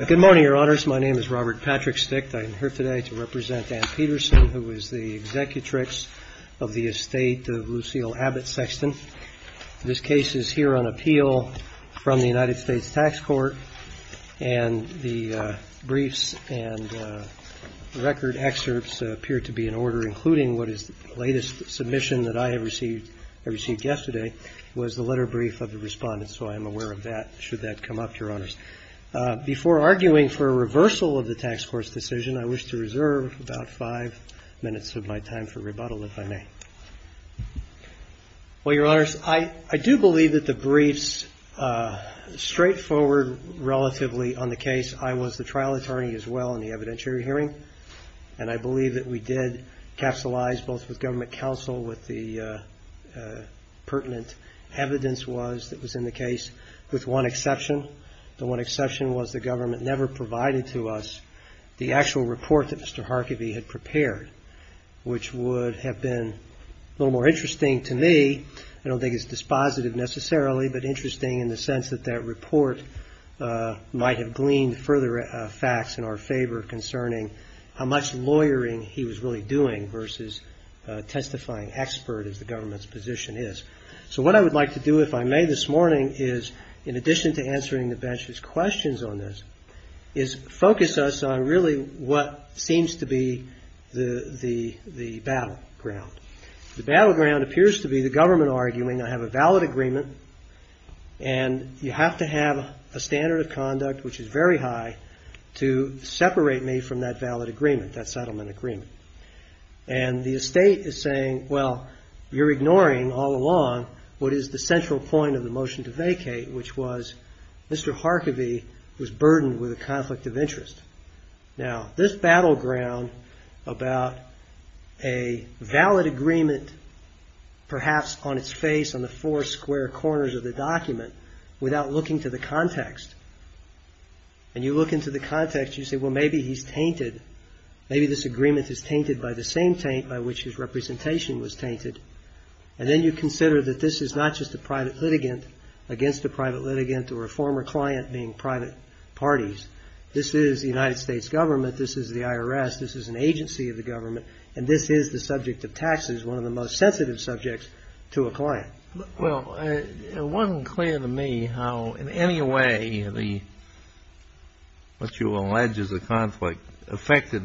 Good morning, Your Honors. My name is Robert Patrick Sticht. I am here today to represent Anne Peterson, who is the Executrix of the Estate of Lucille Abbott Sexton. This case is here on appeal from the United States Tax Court, and the briefs and record excerpts appear to be in order, including what is the latest submission that I have received yesterday, was the letter brief of the Respondent, so I am aware of that, should that come up, Your Honors. Before arguing for a reversal of the Tax Court's decision, I wish to reserve about five minutes of my time for rebuttal, if I may. Well, Your Honors, I do believe that the briefs are straightforward, relatively, on the case. I was the trial attorney as well in the evidentiary hearing, and I believe that we did capsulize both with government counsel what the pertinent evidence was that was in the case, with one exception. The one exception was that the government never provided to us the actual report that Mr. Harkevy had prepared, which would have been a little more interesting to me. I don't think it's dispositive, necessarily, but interesting in the sense that that report might have gleaned further facts in our favor concerning how much lawyering he was really doing versus testifying expert as the government's position is. So what I would like to do, if I may, this morning, is, in addition to answering the bench's questions on this, is focus us on really what seems to be the battleground. The battleground appears to be the government arguing I have a valid agreement, and you have to have a standard of conduct which is very high to separate me from that valid agreement, that settlement agreement. And the estate is saying, well, you're ignoring all along what is the central point of the motion to vacate, which was Mr. Harkevy was burdened with a conflict of interest. Now, this battleground about a valid agreement, perhaps on its face, on the four square corners of the document, without looking to the context, and you look into the context, you say, well, maybe he's tainted. Maybe this agreement is tainted by the same taint by which his representation was tainted. And then you consider that this is not just a private litigant against a private litigant or a former client being private parties. This is the United States government. This is the IRS. This is an agency of the government. And this is the subject of taxes, one of the most sensitive subjects to a client. Well, it wasn't clear to me how in any way the, what you allege is a conflict of interest affected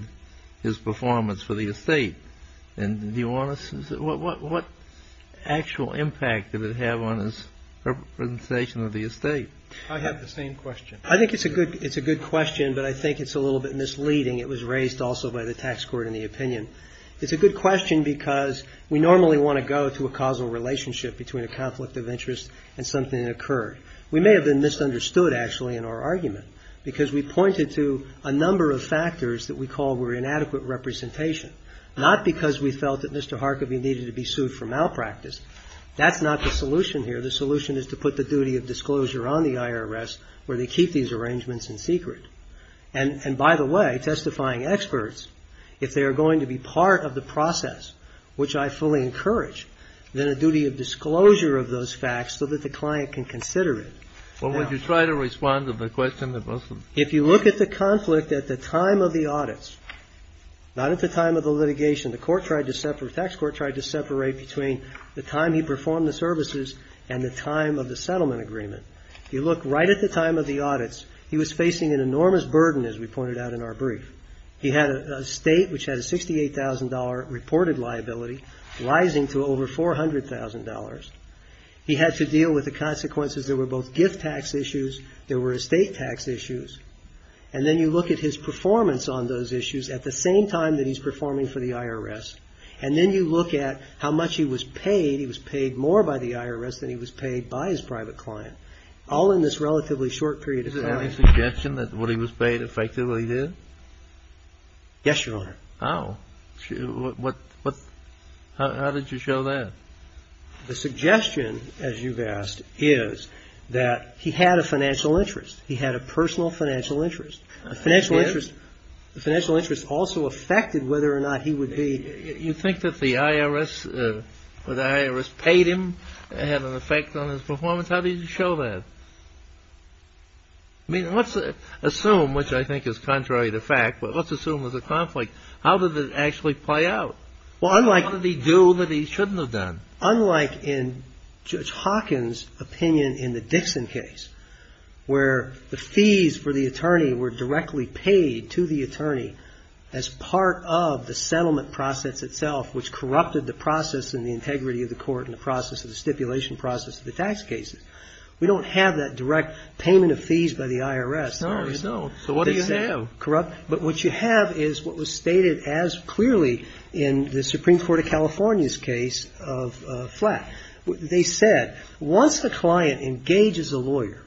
his performance for the estate. And do you want to, what actual impact did it have on his representation of the estate? I have the same question. I think it's a good question, but I think it's a little bit misleading. It was raised also by the tax court in the opinion. It's a good question because we normally want to go to a causal relationship between a conflict of interest and something that occurred. We may have been misunderstood, actually, in our argument because we pointed to a number of factors that we call were inadequate representation, not because we felt that Mr. Harkavy needed to be sued for malpractice. That's not the solution here. The solution is to put the duty of disclosure on the IRS where they keep these arrangements in secret. And by the way, testifying experts, if they are going to be part of the process, which I fully encourage, then a duty of disclosure of those facts so that the client can consider it. Well, would you try to respond to the question that was? If you look at the conflict at the time of the audits, not at the time of the litigation, the court tried to separate, the tax court tried to separate between the time he performed the services and the time of the settlement agreement. If you look right at the time of the audits, he was facing an enormous burden, as we pointed out in our brief. He had a state which had a $68,000 reported liability, rising to over $400,000. He had to deal with the issues. And then you look at his performance on those issues at the same time that he's performing for the IRS. And then you look at how much he was paid. He was paid more by the IRS than he was paid by his private client. All in this relatively short period of time. Is there any suggestion that what he was paid effectively did? Yes, Your Honor. Oh. What, what, how did you show that? The suggestion, as you've asked, is that he had a financial interest. He had a personal financial interest. I did. A financial interest. The financial interest also affected whether or not he would be You think that the IRS, that the IRS paid him, had an effect on his performance? How did you show that? I mean, let's assume, which I think is contrary to fact, but let's assume it was a conflict. How did it actually play out? Well, I'm like What did he do that he shouldn't have done? Unlike in Judge Hawkins' opinion in the Dixon case, where the fees for the attorney were directly paid to the attorney as part of the settlement process itself, which corrupted the process and the integrity of the court in the process of the stipulation process of the tax cases. We don't have that direct payment of fees by the IRS. No, you don't. So what do you have? Corrupt. But what you have is what was stated as clearly in the Supreme Court of California's case of Flatt. They said, once the client engages a lawyer,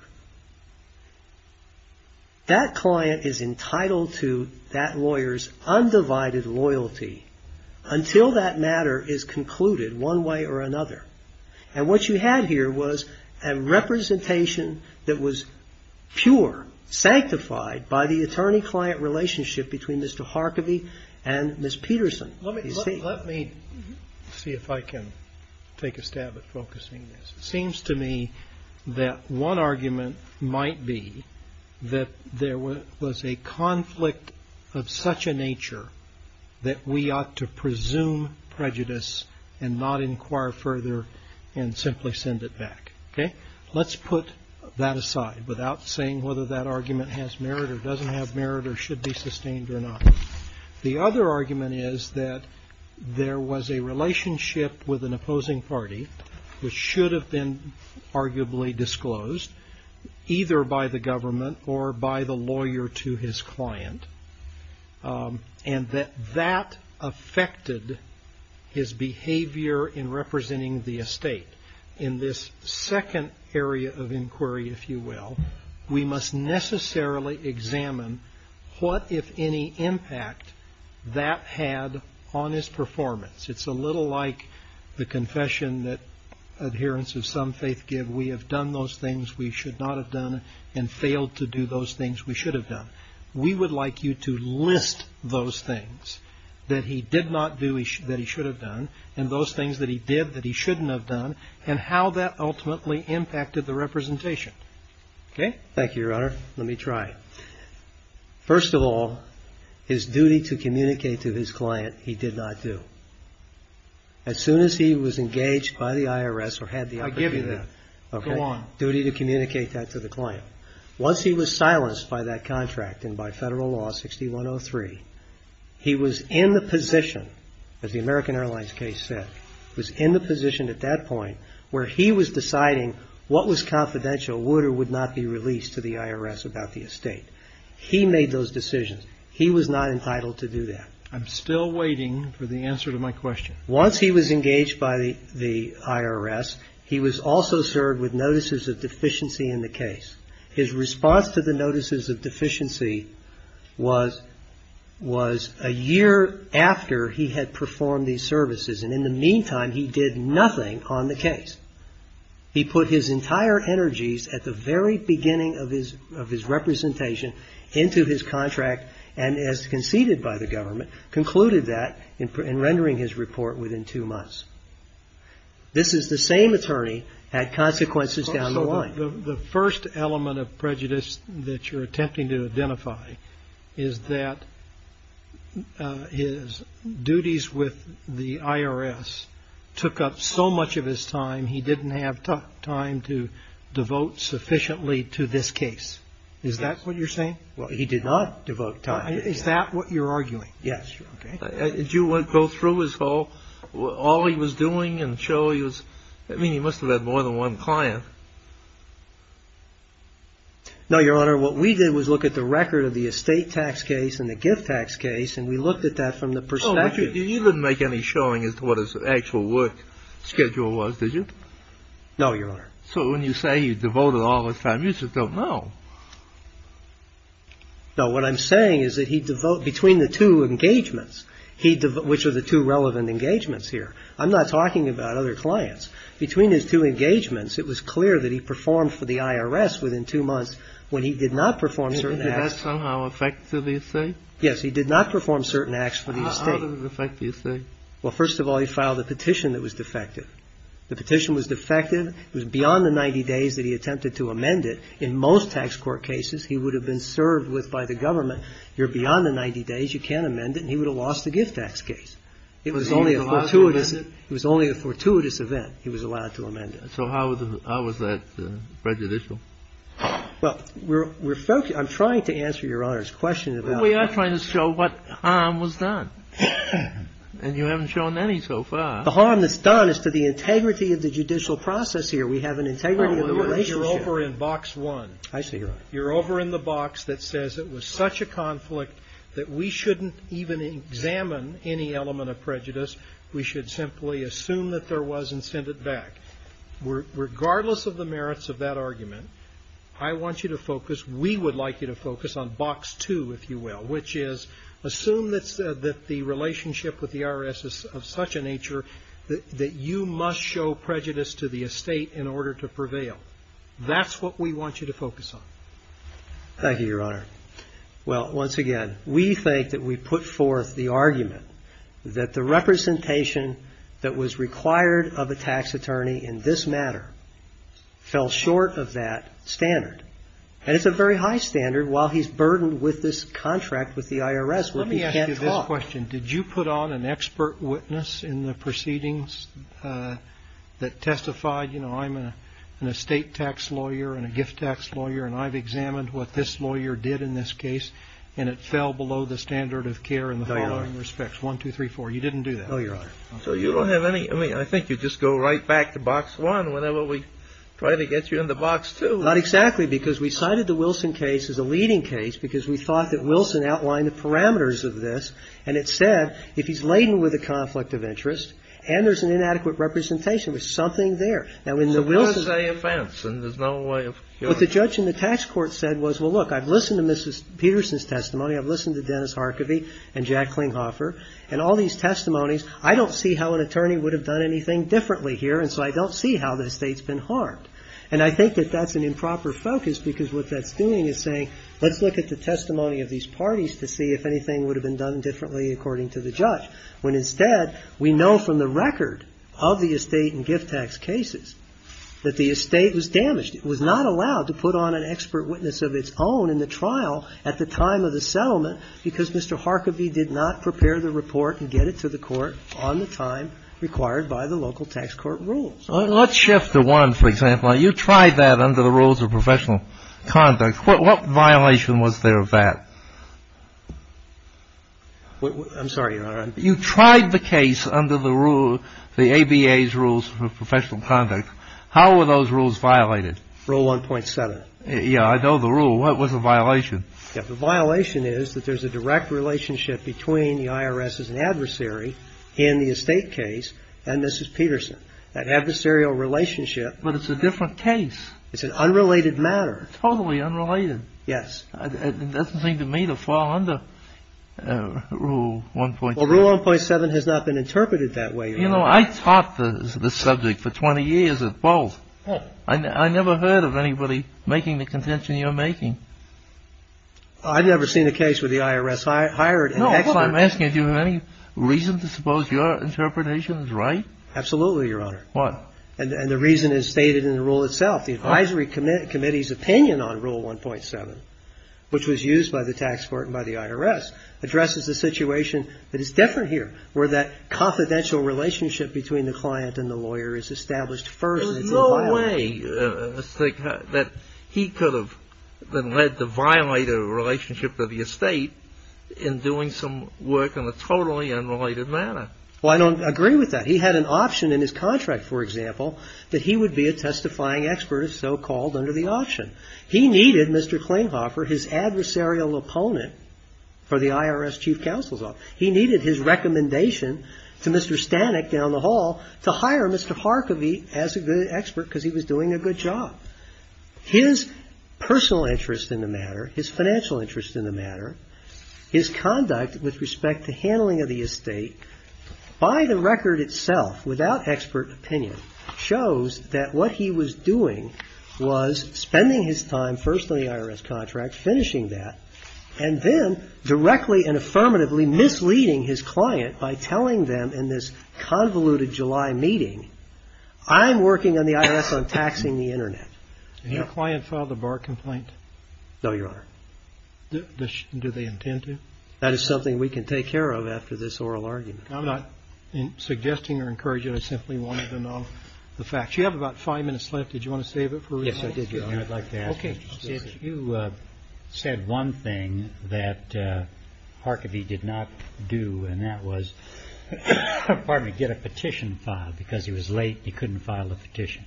that client is entitled to that lawyer's undivided loyalty until that matter is concluded one way or another. And what you had here was a representation that was pure, sanctified by the attorney-client relationship between Mr. Harkavy and Ms. Peterson. Let me see if I can take a stab at focusing this. It seems to me that one argument might be that there was a conflict of such a nature that we ought to presume prejudice and not inquire further and simply send it back. Let's put that aside without saying whether that argument has merit or doesn't have merit or should be sustained or not. The other argument is that there was a relationship with an opposing party, which should have been arguably disclosed, either by the government or by the lawyer to his client, and that that affected his behavior in representing the estate. In this second area of inquiry, if you will, we must necessarily examine what, if any, impact that had on his performance. It's a little like the confession that adherents of some faith give, we have done those things we should not have done and failed to do those things that he did not do that he should have done, and those things that he did that he shouldn't have done, and how that ultimately impacted the representation. Thank you, Your Honor. Let me try. First of all, his duty to communicate to his client he did not do. As soon as he was engaged by the IRS or had the opportunity to do that I give you that. Go on. Okay. Duty to communicate that to the client. Once he was silenced by that contract and by federal law 6103, he was in the position, as the American Airlines case said, was in the position at that point where he was deciding what was confidential, would or would not be released to the IRS about the estate. He made those decisions. He was not entitled to do that. I'm still waiting for the answer to my question. Once he was engaged by the IRS, he was also served with notices of deficiency in the case. His response to the notices of deficiency was a year after he had performed these services. And in the meantime, he did nothing on the case. He put his entire energies at the very beginning of his representation into his contract and, as conceded by the government, concluded that in rendering his report within two months. This is the same attorney at consequences down the line. The first element of prejudice that you're attempting to identify is that his duties with the IRS took up so much of his time, he didn't have time to devote sufficiently to this case. Is that what you're saying? Well, he did not devote time. Is that what you're arguing? Yes. Did you go through all he was doing and show he was, I mean, he must have had more than one client? No, Your Honor. What we did was look at the record of the estate tax case and the gift tax case, and we looked at that from the perspective. Oh, but you didn't make any showing as to what his actual work schedule was, did you? No, Your Honor. So when you say he devoted all his time, you just don't know. No, what I'm saying is that he devote, between the two engagements, which are the two relevant engagements here, I'm not talking about other clients. Between his two engagements, it was clear that he performed for the IRS within two months when he did not perform certain acts. So did that somehow affect the estate? Yes, he did not perform certain acts for the estate. How did it affect the estate? Well, first of all, he filed a petition that was defective. The petition was defective. It was beyond the 90 days that he attempted to amend it. In most tax court cases, he would have been served with by the government, you're beyond the 90 days, you can't amend it, and he would have lost the gift tax case. It was only a fortuitous event he was allowed to amend it. So how was that prejudicial? Well, we're focused — I'm trying to answer Your Honor's question about — But we are trying to show what harm was done. And you haven't shown any so far. The harm that's done is to the integrity of the judicial process here. We have an integrity of the relationship — Your Honor, you're over in Box 1. I see, Your Honor. You're over in the box that says it was such a conflict that we shouldn't even examine any element of prejudice. We should simply assume that there was and send it back. Regardless of the merits of that argument, I want you to focus — we would like you to focus on Box 2, if you will, which is assume that the relationship with the IRS is of such a nature that you must show prejudice to the estate in order to prevail. That's what we want you to focus on. Thank you, Your Honor. Well, once again, we think that we put forth the argument that the representation that was required of a tax attorney in this matter fell short of that standard. And it's a very high standard while he's burdened with this contract with the IRS, which he can't talk. Let me ask you this question. Did you put on an expert witness in the proceedings that testified, you know, I'm an estate tax lawyer and a gift tax lawyer, and I've examined what this lawyer did in this case, and it fell below the standard of care in the following respects, 1, 2, 3, 4? You didn't do that. No, Your Honor. So you don't have any — I mean, I think you just go right back to Box 1 whenever we try to get you into Box 2. Not exactly, because we cited the Wilson case as a leading case because we thought that Wilson outlined the parameters of this. And it said if he's laden with a conflict of interest and there's an inadequate representation, there's something there. Now, in the Wilson — It's a Wednesday offense, and there's no way of curing it. What the judge in the tax court said was, well, look, I've listened to Mrs. Peterson's testimony, I've listened to Dennis Harcovy and Jack Klinghoffer, and all these testimonies, I don't see how an attorney would have done anything differently here, and so I don't see how the estate's been harmed. And I think that that's an improper focus because what that's doing is saying, let's look at the testimony of these parties to see if anything would have been done differently, according to the judge, when, instead, we know from the record of the estate and gift tax cases that the estate was damaged. It was not allowed to put on an expert witness of its own in the trial at the time of the settlement because Mr. Harcovy did not prepare the report and get it to the court on the time required by the local tax court rules. Well, let's shift to one, for example. You tried that under the rules of professional conduct. What violation was there of that? I'm sorry, Your Honor. You tried the case under the rules, the ABA's rules for professional conduct. How were those rules violated? Rule 1.7. Yeah, I know the rule. What was the violation? The violation is that there's a direct relationship between the IRS's adversary in the estate case and Mrs. Peterson. That adversarial relationship — But it's a different case. It's an unrelated matter. Totally unrelated. Yes. It doesn't seem to me to fall under Rule 1.7. Well, Rule 1.7 has not been interpreted that way, Your Honor. You know, I taught the subject for 20 years at Bolt. I never heard of anybody making the contention you're making. I've never seen a case where the IRS hired an expert. No, but I'm asking, do you have any reason to suppose your interpretation is right? Absolutely, Your Honor. What? And the reason is stated in the rule itself. The advisory committee's opinion on Rule 1.7, which was used by the tax court and by the IRS, addresses a situation that is different here, where that confidential relationship between the client and the lawyer is established first. There's no way that he could have been led to violate a relationship with the estate in doing some work in a totally unrelated matter. Well, I don't agree with that. He had an option in his contract, for example, that he would be a testifying expert, so-called, under the option. He needed Mr. Klinghoffer, his adversarial opponent for the IRS chief counsel's office. He needed his recommendation to Mr. Stanek down the hall to hire Mr. Harkavy as the expert because he was doing a good job. His personal interest in the matter, his financial interest in the matter, his conduct with respect to handling of the estate, by the record itself, without expert opinion, shows that what he was doing was spending his time first on the IRS contract, finishing that, and then directly and affirmatively misleading his client by telling them in this convoluted July meeting, I'm working on the IRS on taxing the Internet. No, Your Honor. Do they intend to? That is something we can take care of after this oral argument. I'm not suggesting or encouraging. I simply wanted to know the facts. You have about five minutes left. Did you want to save it for recess? Yes, I did, Your Honor. I'd like to ask you, if you said one thing that Harkavy did not do, and that was, pardon me, get a petition filed because he was late and he couldn't file a petition.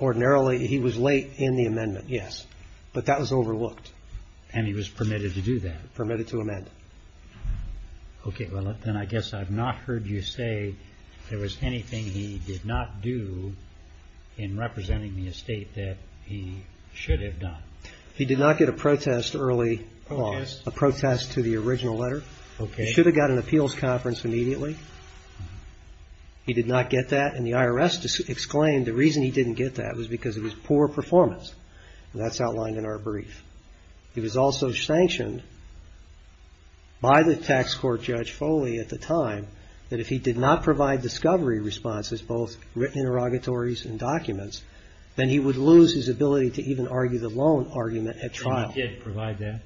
Ordinarily, he was late in the amendment, yes, but that was overlooked. And he was permitted to do that? Permitted to amend. Okay, well, then I guess I've not heard you say there was anything he did not do in representing the estate that he should have done. He did not get a protest early on, a protest to the original letter. He should have got an appeals conference immediately. He did not get that, and the IRS exclaimed the reason he didn't get that was because of his poor performance, and that's outlined in our brief. He was also sanctioned by the tax court judge Foley at the time that if he did not provide discovery responses, both written interrogatories and documents, then he would lose his ability to even argue the loan argument at trial. And he did provide that?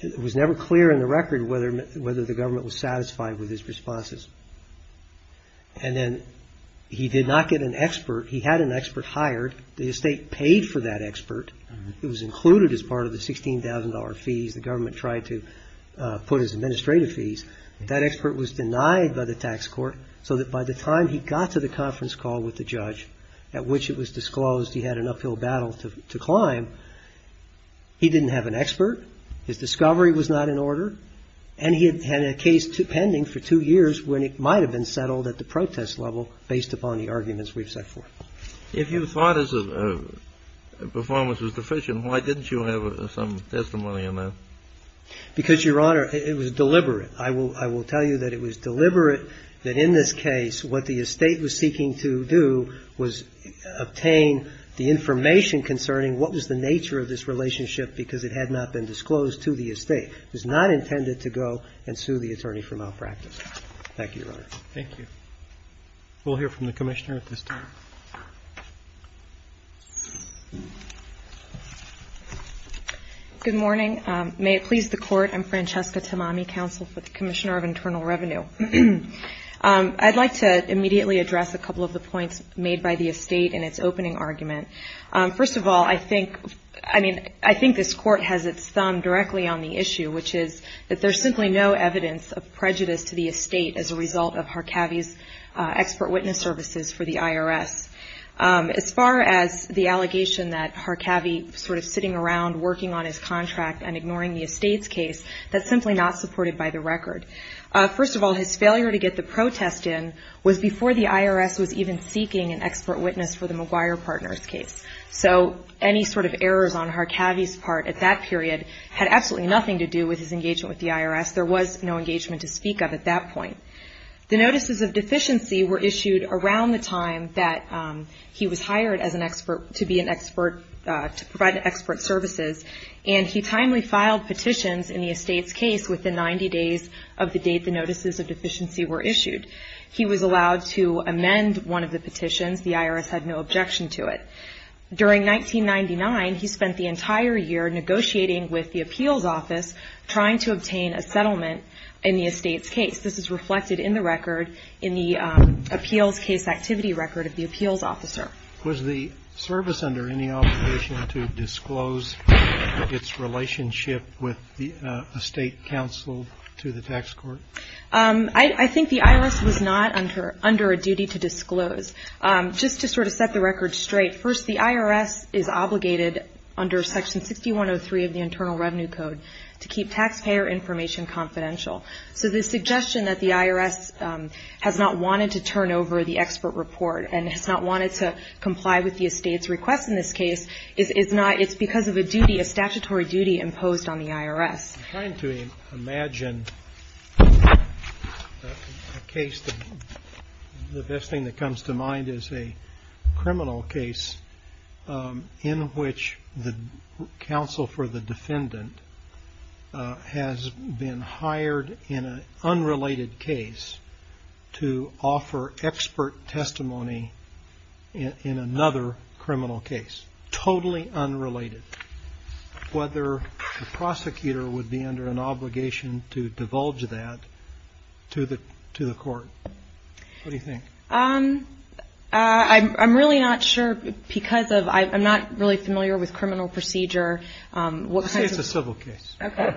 It was never clear in the record whether the government was satisfied with his responses, and then he did not get an expert. He had an expert hired. The estate paid for that expert. It was included as part of the $16,000 fees the government tried to put as administrative fees. That expert was denied by the tax court so that by the time he got to the conference call with the judge, at which it was disclosed he had an uphill battle to climb, he didn't have an expert. His discovery was not in order, and he had a case pending for two years when it might have been settled at the protest level based upon the arguments we've set forth. If you thought his performance was deficient, why didn't you have some testimony on that? Because, Your Honor, it was deliberate. I will tell you that it was deliberate that in this case what the estate was seeking to do was obtain the information concerning what was the nature of this relationship because it had not been disclosed to the estate. It was not intended to go and sue the attorney for malpractice. Thank you, Your Honor. Thank you. We'll hear from the Commissioner at this time. Good morning. May it please the Court. I'm Francesca Tamami, Counsel for the Commissioner of Internal Revenue. I'd like to immediately address a couple of the points made by the estate in its opening argument. First of all, I think this Court has its thumb directly on the issue, which is that there's simply no evidence of prejudice to the estate as a result of Harkavy's expert witness services for the IRS. As far as the allegation that Harkavy sort of sitting around working on his contract and ignoring the estate's case, that's simply not supported by the record. First of all, his failure to get the protest in was before the IRS was even seeking an expert partner's case, so any sort of errors on Harkavy's part at that period had absolutely nothing to do with his engagement with the IRS. There was no engagement to speak of at that point. The notices of deficiency were issued around the time that he was hired as an expert to be an expert, to provide expert services, and he timely filed petitions in the estate's case within 90 days of the date the notices of deficiency were issued. He was allowed to amend one of the petitions. The IRS had no objection to it. During 1999, he spent the entire year negotiating with the appeals office trying to obtain a settlement in the estate's case. This is reflected in the record in the appeals case activity record of the appeals officer. Was the service under any obligation to disclose its relationship with the estate counsel to the tax court? I think the IRS was not under a duty to disclose. Just to sort of set the record straight, first, the IRS is obligated under Section 6103 of the Internal Revenue Code to keep taxpayer information confidential, so the suggestion that the IRS has not wanted to turn over the expert report and has not wanted to comply with the estate's request in this case is not, it's because of a duty, a statutory duty imposed on the IRS. I'm trying to imagine a case, the best thing that comes to mind is a criminal case in which the counsel for the defendant has been hired in an unrelated case to offer expert testimony in another criminal case, totally unrelated. Whether the prosecutor would be under an obligation to divulge that to the court. What do you think? I'm really not sure because of, I'm not really familiar with criminal procedure. Let's say it's a civil case. Okay.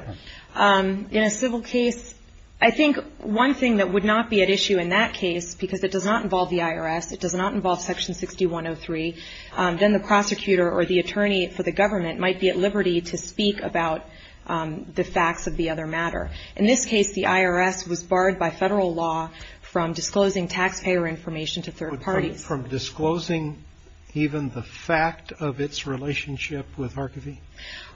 In a civil case, I think one thing that would not be at issue in that case because it does not involve the IRS, it does not involve Section 6103, then the prosecutor or the attorney for the government might be at liberty to speak about the facts of the other matter. In this case, the IRS was barred by federal law from disclosing taxpayer information to third parties. From disclosing even the fact of its relationship with Harkavy?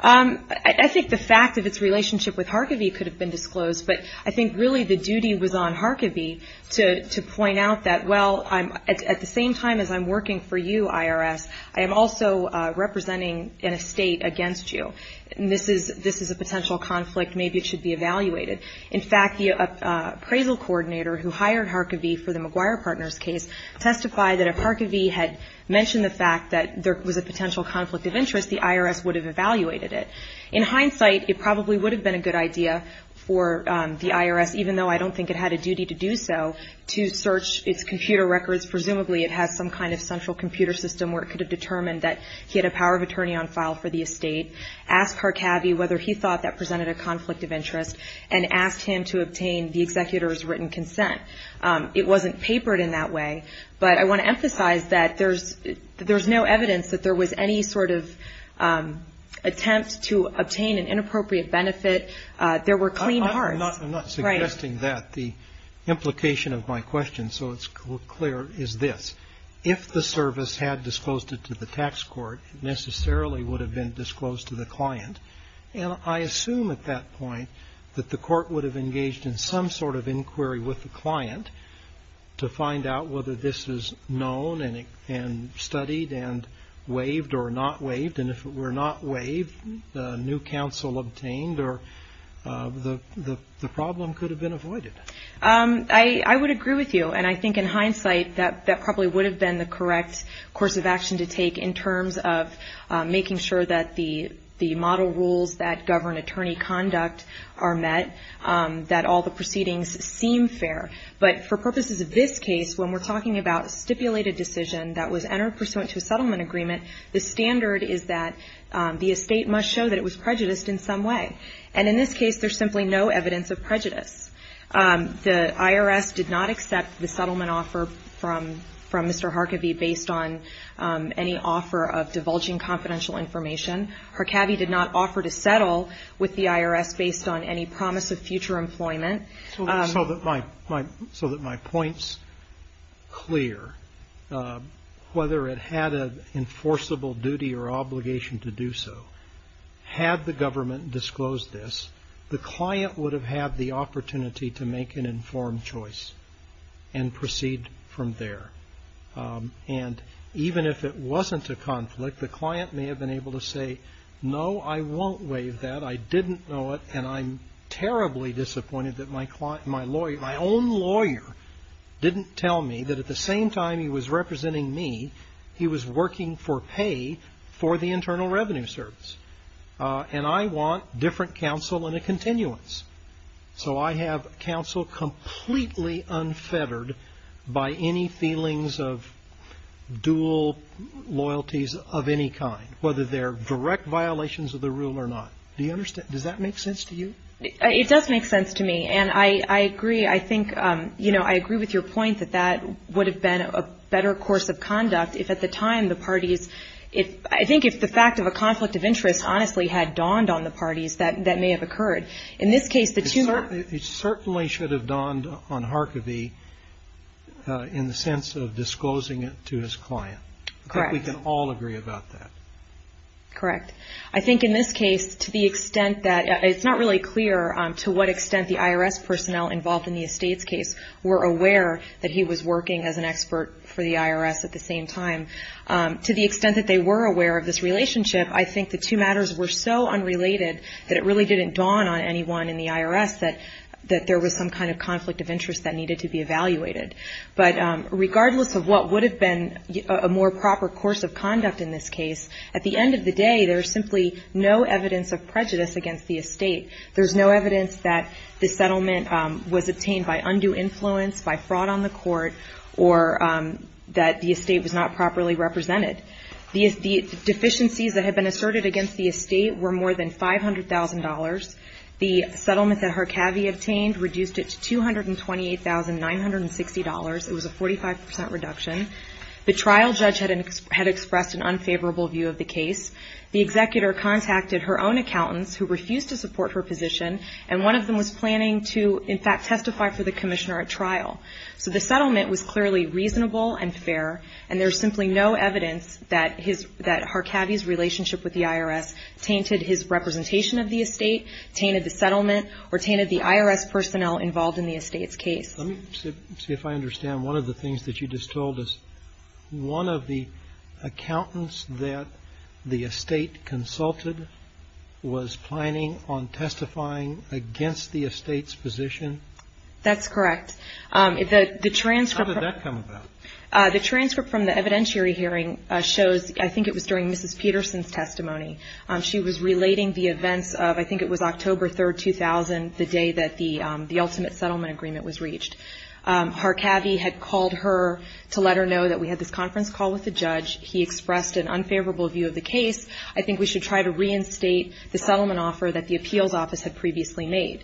I think the fact of its relationship with Harkavy could have been disclosed, but I think really the duty was on Harkavy to point out that, well, at the same time as I'm working for you, IRS, I am also representing an estate against you. This is a potential conflict. Maybe it should be evaluated. In fact, the appraisal coordinator who hired Harkavy for the McGuire Partners case testified that if Harkavy had mentioned the fact that there was a potential conflict of interest, the IRS would have evaluated it. In hindsight, it probably would have been a good idea for the IRS, even though I don't think it had a duty to do so, to search its computer records. Presumably it has some kind of central computer system where it could have determined that he had a power of attorney on file for the estate, asked Harkavy whether he thought that presented a conflict of interest, and asked him to obtain the executor's written consent. It wasn't papered in that way, but I want to emphasize that there's no evidence that there was any sort of attempt to obtain an inappropriate benefit. There were clean hearts. I'm not suggesting that. The implication of my question, so it's clear, is this. If the service had disclosed it to the tax court, it necessarily would have been disclosed to the client. And I assume at that point that the court would have engaged in some sort of inquiry with the client to find out whether this is known and studied and waived or not waived. And if it were not waived, a new counsel obtained, or the problem could have been avoided. I would agree with you, and I think in hindsight that probably would have been the correct course of action to take in terms of making sure that the model rules that govern attorney conduct are met, that all the proceedings seem fair. But for purposes of this case, when we're talking about a stipulated decision that was entered pursuant to a settlement agreement, the standard is that the estate must show that it was prejudiced in some way. And in this case, there's simply no evidence of prejudice. The IRS did not accept the settlement offer from Mr. Harkavy based on any offer of divulging confidential information. Harkavy did not offer to settle with the IRS based on any promise of future employment. So that my point's clear, whether it had an enforceable duty or obligation to do so, had the government disclosed this, the client would have had the opportunity to make an informed choice and proceed from there. And even if it wasn't a conflict, the client may have been able to say, no, I won't waive that. I didn't know it, and I'm terribly disappointed that my client, my lawyer, my own lawyer didn't tell me that at the same time he was representing me, he was working for pay for the Internal Revenue Service. And I want different counsel and a continuance. So I have counsel completely unfettered by any feelings of dual loyalties of any kind, whether they're direct violations of the rule or not. Do you understand? Does that make sense to you? It does make sense to me, and I agree. I think, you know, I agree with your point that that would have been a better course of conduct if at the time the parties, if, I think if the fact of a conflict of interest honestly had dawned on the parties, that may have occurred. In this case, the two. It certainly should have dawned on Harkavy in the sense of disclosing it to his client. Correct. I think we can all agree about that. Correct. I think in this case, to the extent that, it's not really clear to what extent the IRS personnel involved in the Estates case were aware that he was working as an expert for the IRS at the same time. To the extent that they were aware of this relationship, I think the two matters were so unrelated that it really didn't dawn on anyone in the IRS that there was some kind of conflict of interest that needed to be evaluated. But regardless of what would have been a more proper course of conduct in this case, at the end of the day, there's simply no evidence of prejudice against the Estate. There's no evidence that the settlement was obtained by undue influence, by fraud on the court, or that the Estate was not properly represented. The deficiencies that had been asserted against the Estate were more than $500,000. The settlement that Harkavy obtained reduced it to $228,960. It was a 45% reduction. The trial judge had expressed an unfavorable view of the case. The executor contacted her own accountants who refused to support her position, and one of them was planning to, in fact, testify for the commissioner at trial. So the settlement was clearly reasonable and fair, and there's simply no evidence that Harkavy's relationship with the IRS tainted his representation of the Estate, tainted the settlement, or tainted the IRS personnel involved in the Estates case. Let me see if I understand. One of the things that you just told us, one of the accountants that the Estate consulted was planning on testifying against the Estate's position? That's correct. How did that come about? The transcript from the evidentiary hearing shows, I think it was during Mrs. Peterson's testimony, she was relating the events of, I think it was October 3, 2000, the day that the ultimate settlement agreement was reached. Harkavy had called her to let her know that we had this conference call with the judge. He expressed an unfavorable view of the case. I think we should try to reinstate the settlement offer that the appeals office had previously made.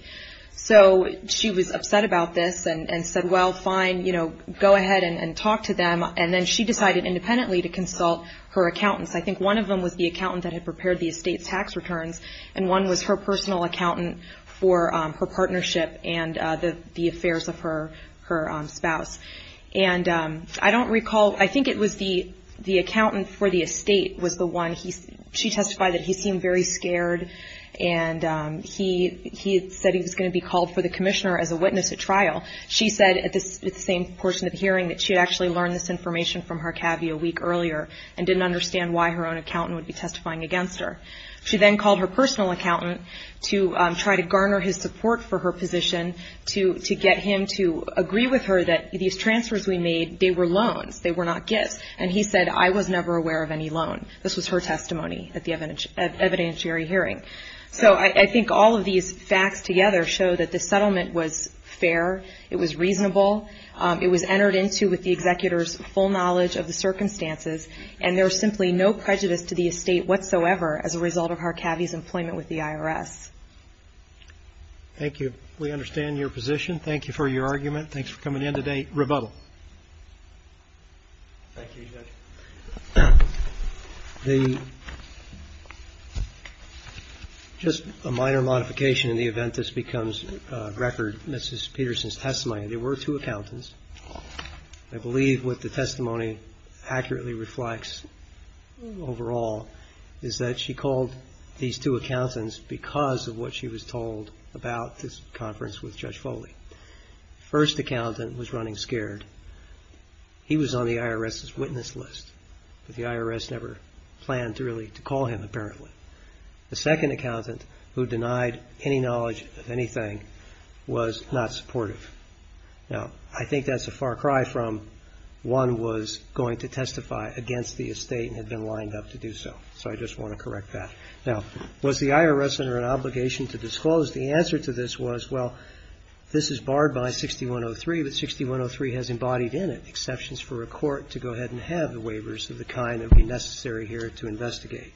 So she was upset about this and said, well, fine, go ahead and talk to them. And then she decided independently to consult her accountants. I think one of them was the accountant that had prepared the Estate's tax returns, and one was her personal accountant for her partnership and the affairs of her spouse. And I don't recall, I think it was the accountant for the Estate was the one, she testified that he seemed very scared and he said he was going to be called for the commissioner as a witness at trial. She said at the same portion of the hearing that she had actually learned this information from Harkavy a week earlier and didn't understand why her own accountant would be testifying against her. She then called her personal accountant to try to garner his support for her position to get him to agree with her that these transfers we made, they were loans, they were not gifts. And he said, I was never aware of any loan. This was her testimony at the evidentiary hearing. So I think all of these facts together show that the settlement was fair, it was reasonable, it was entered into with the executor's full knowledge of the circumstances, and there was simply no prejudice to the Estate whatsoever as a result of Harkavy's employment with the IRS. Thank you. We understand your position. Thank you for your argument. Thanks for coming in today. Rebuttal. Thank you, Judge. The, just a minor modification in the event this becomes a record, Mrs. Peterson's testimony, there were two accountants. I believe what the testimony accurately reflects overall is that she called these two accountants because of what she was told about this conference with Judge Foley. First accountant was running scared. He was on the IRS's witness list, but the IRS never planned to really, to call him apparently. The second accountant, who denied any knowledge of anything, was not supportive. Now, I think that's a far cry from one was going to testify against the Estate and had been lined up to do so. So I just want to correct that. Now, was the IRS under an obligation to disclose? The answer to this was, well, this is barred by 6103, but 6103 has embodied in it exceptions for a court to go ahead and have the waivers of the kind that would be necessary here to investigate.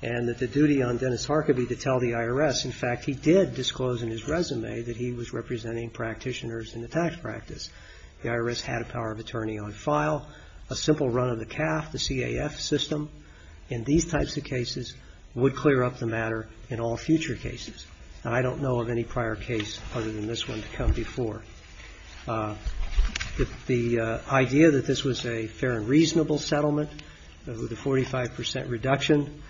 And that the duty on Dennis Harkavy to tell the IRS, in fact, he did disclose in his resume that he was representing practitioners in the tax practice. The IRS had a power of attorney on file. A simple run of the CAF, the CAF system, in these types of cases would clear up the matter in all future cases. And I don't know of any prior case other than this one to come before. The idea that this was a fair and reasonable settlement with a 45 percent reduction,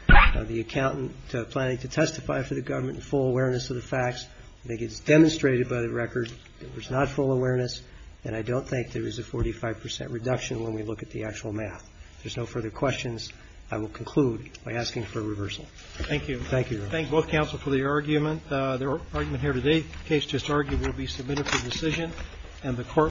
the accountant planning to testify for the government in full awareness of the facts. I think it's demonstrated by the record that there's not full awareness, and I don't think there is a 45 percent reduction when we look at the actual math. If there's no further questions, I will conclude by asking for a reversal. Thank you. Thank you. Thank both counsel for the argument. The argument here today, the case just argued, will be submitted for decision and the court.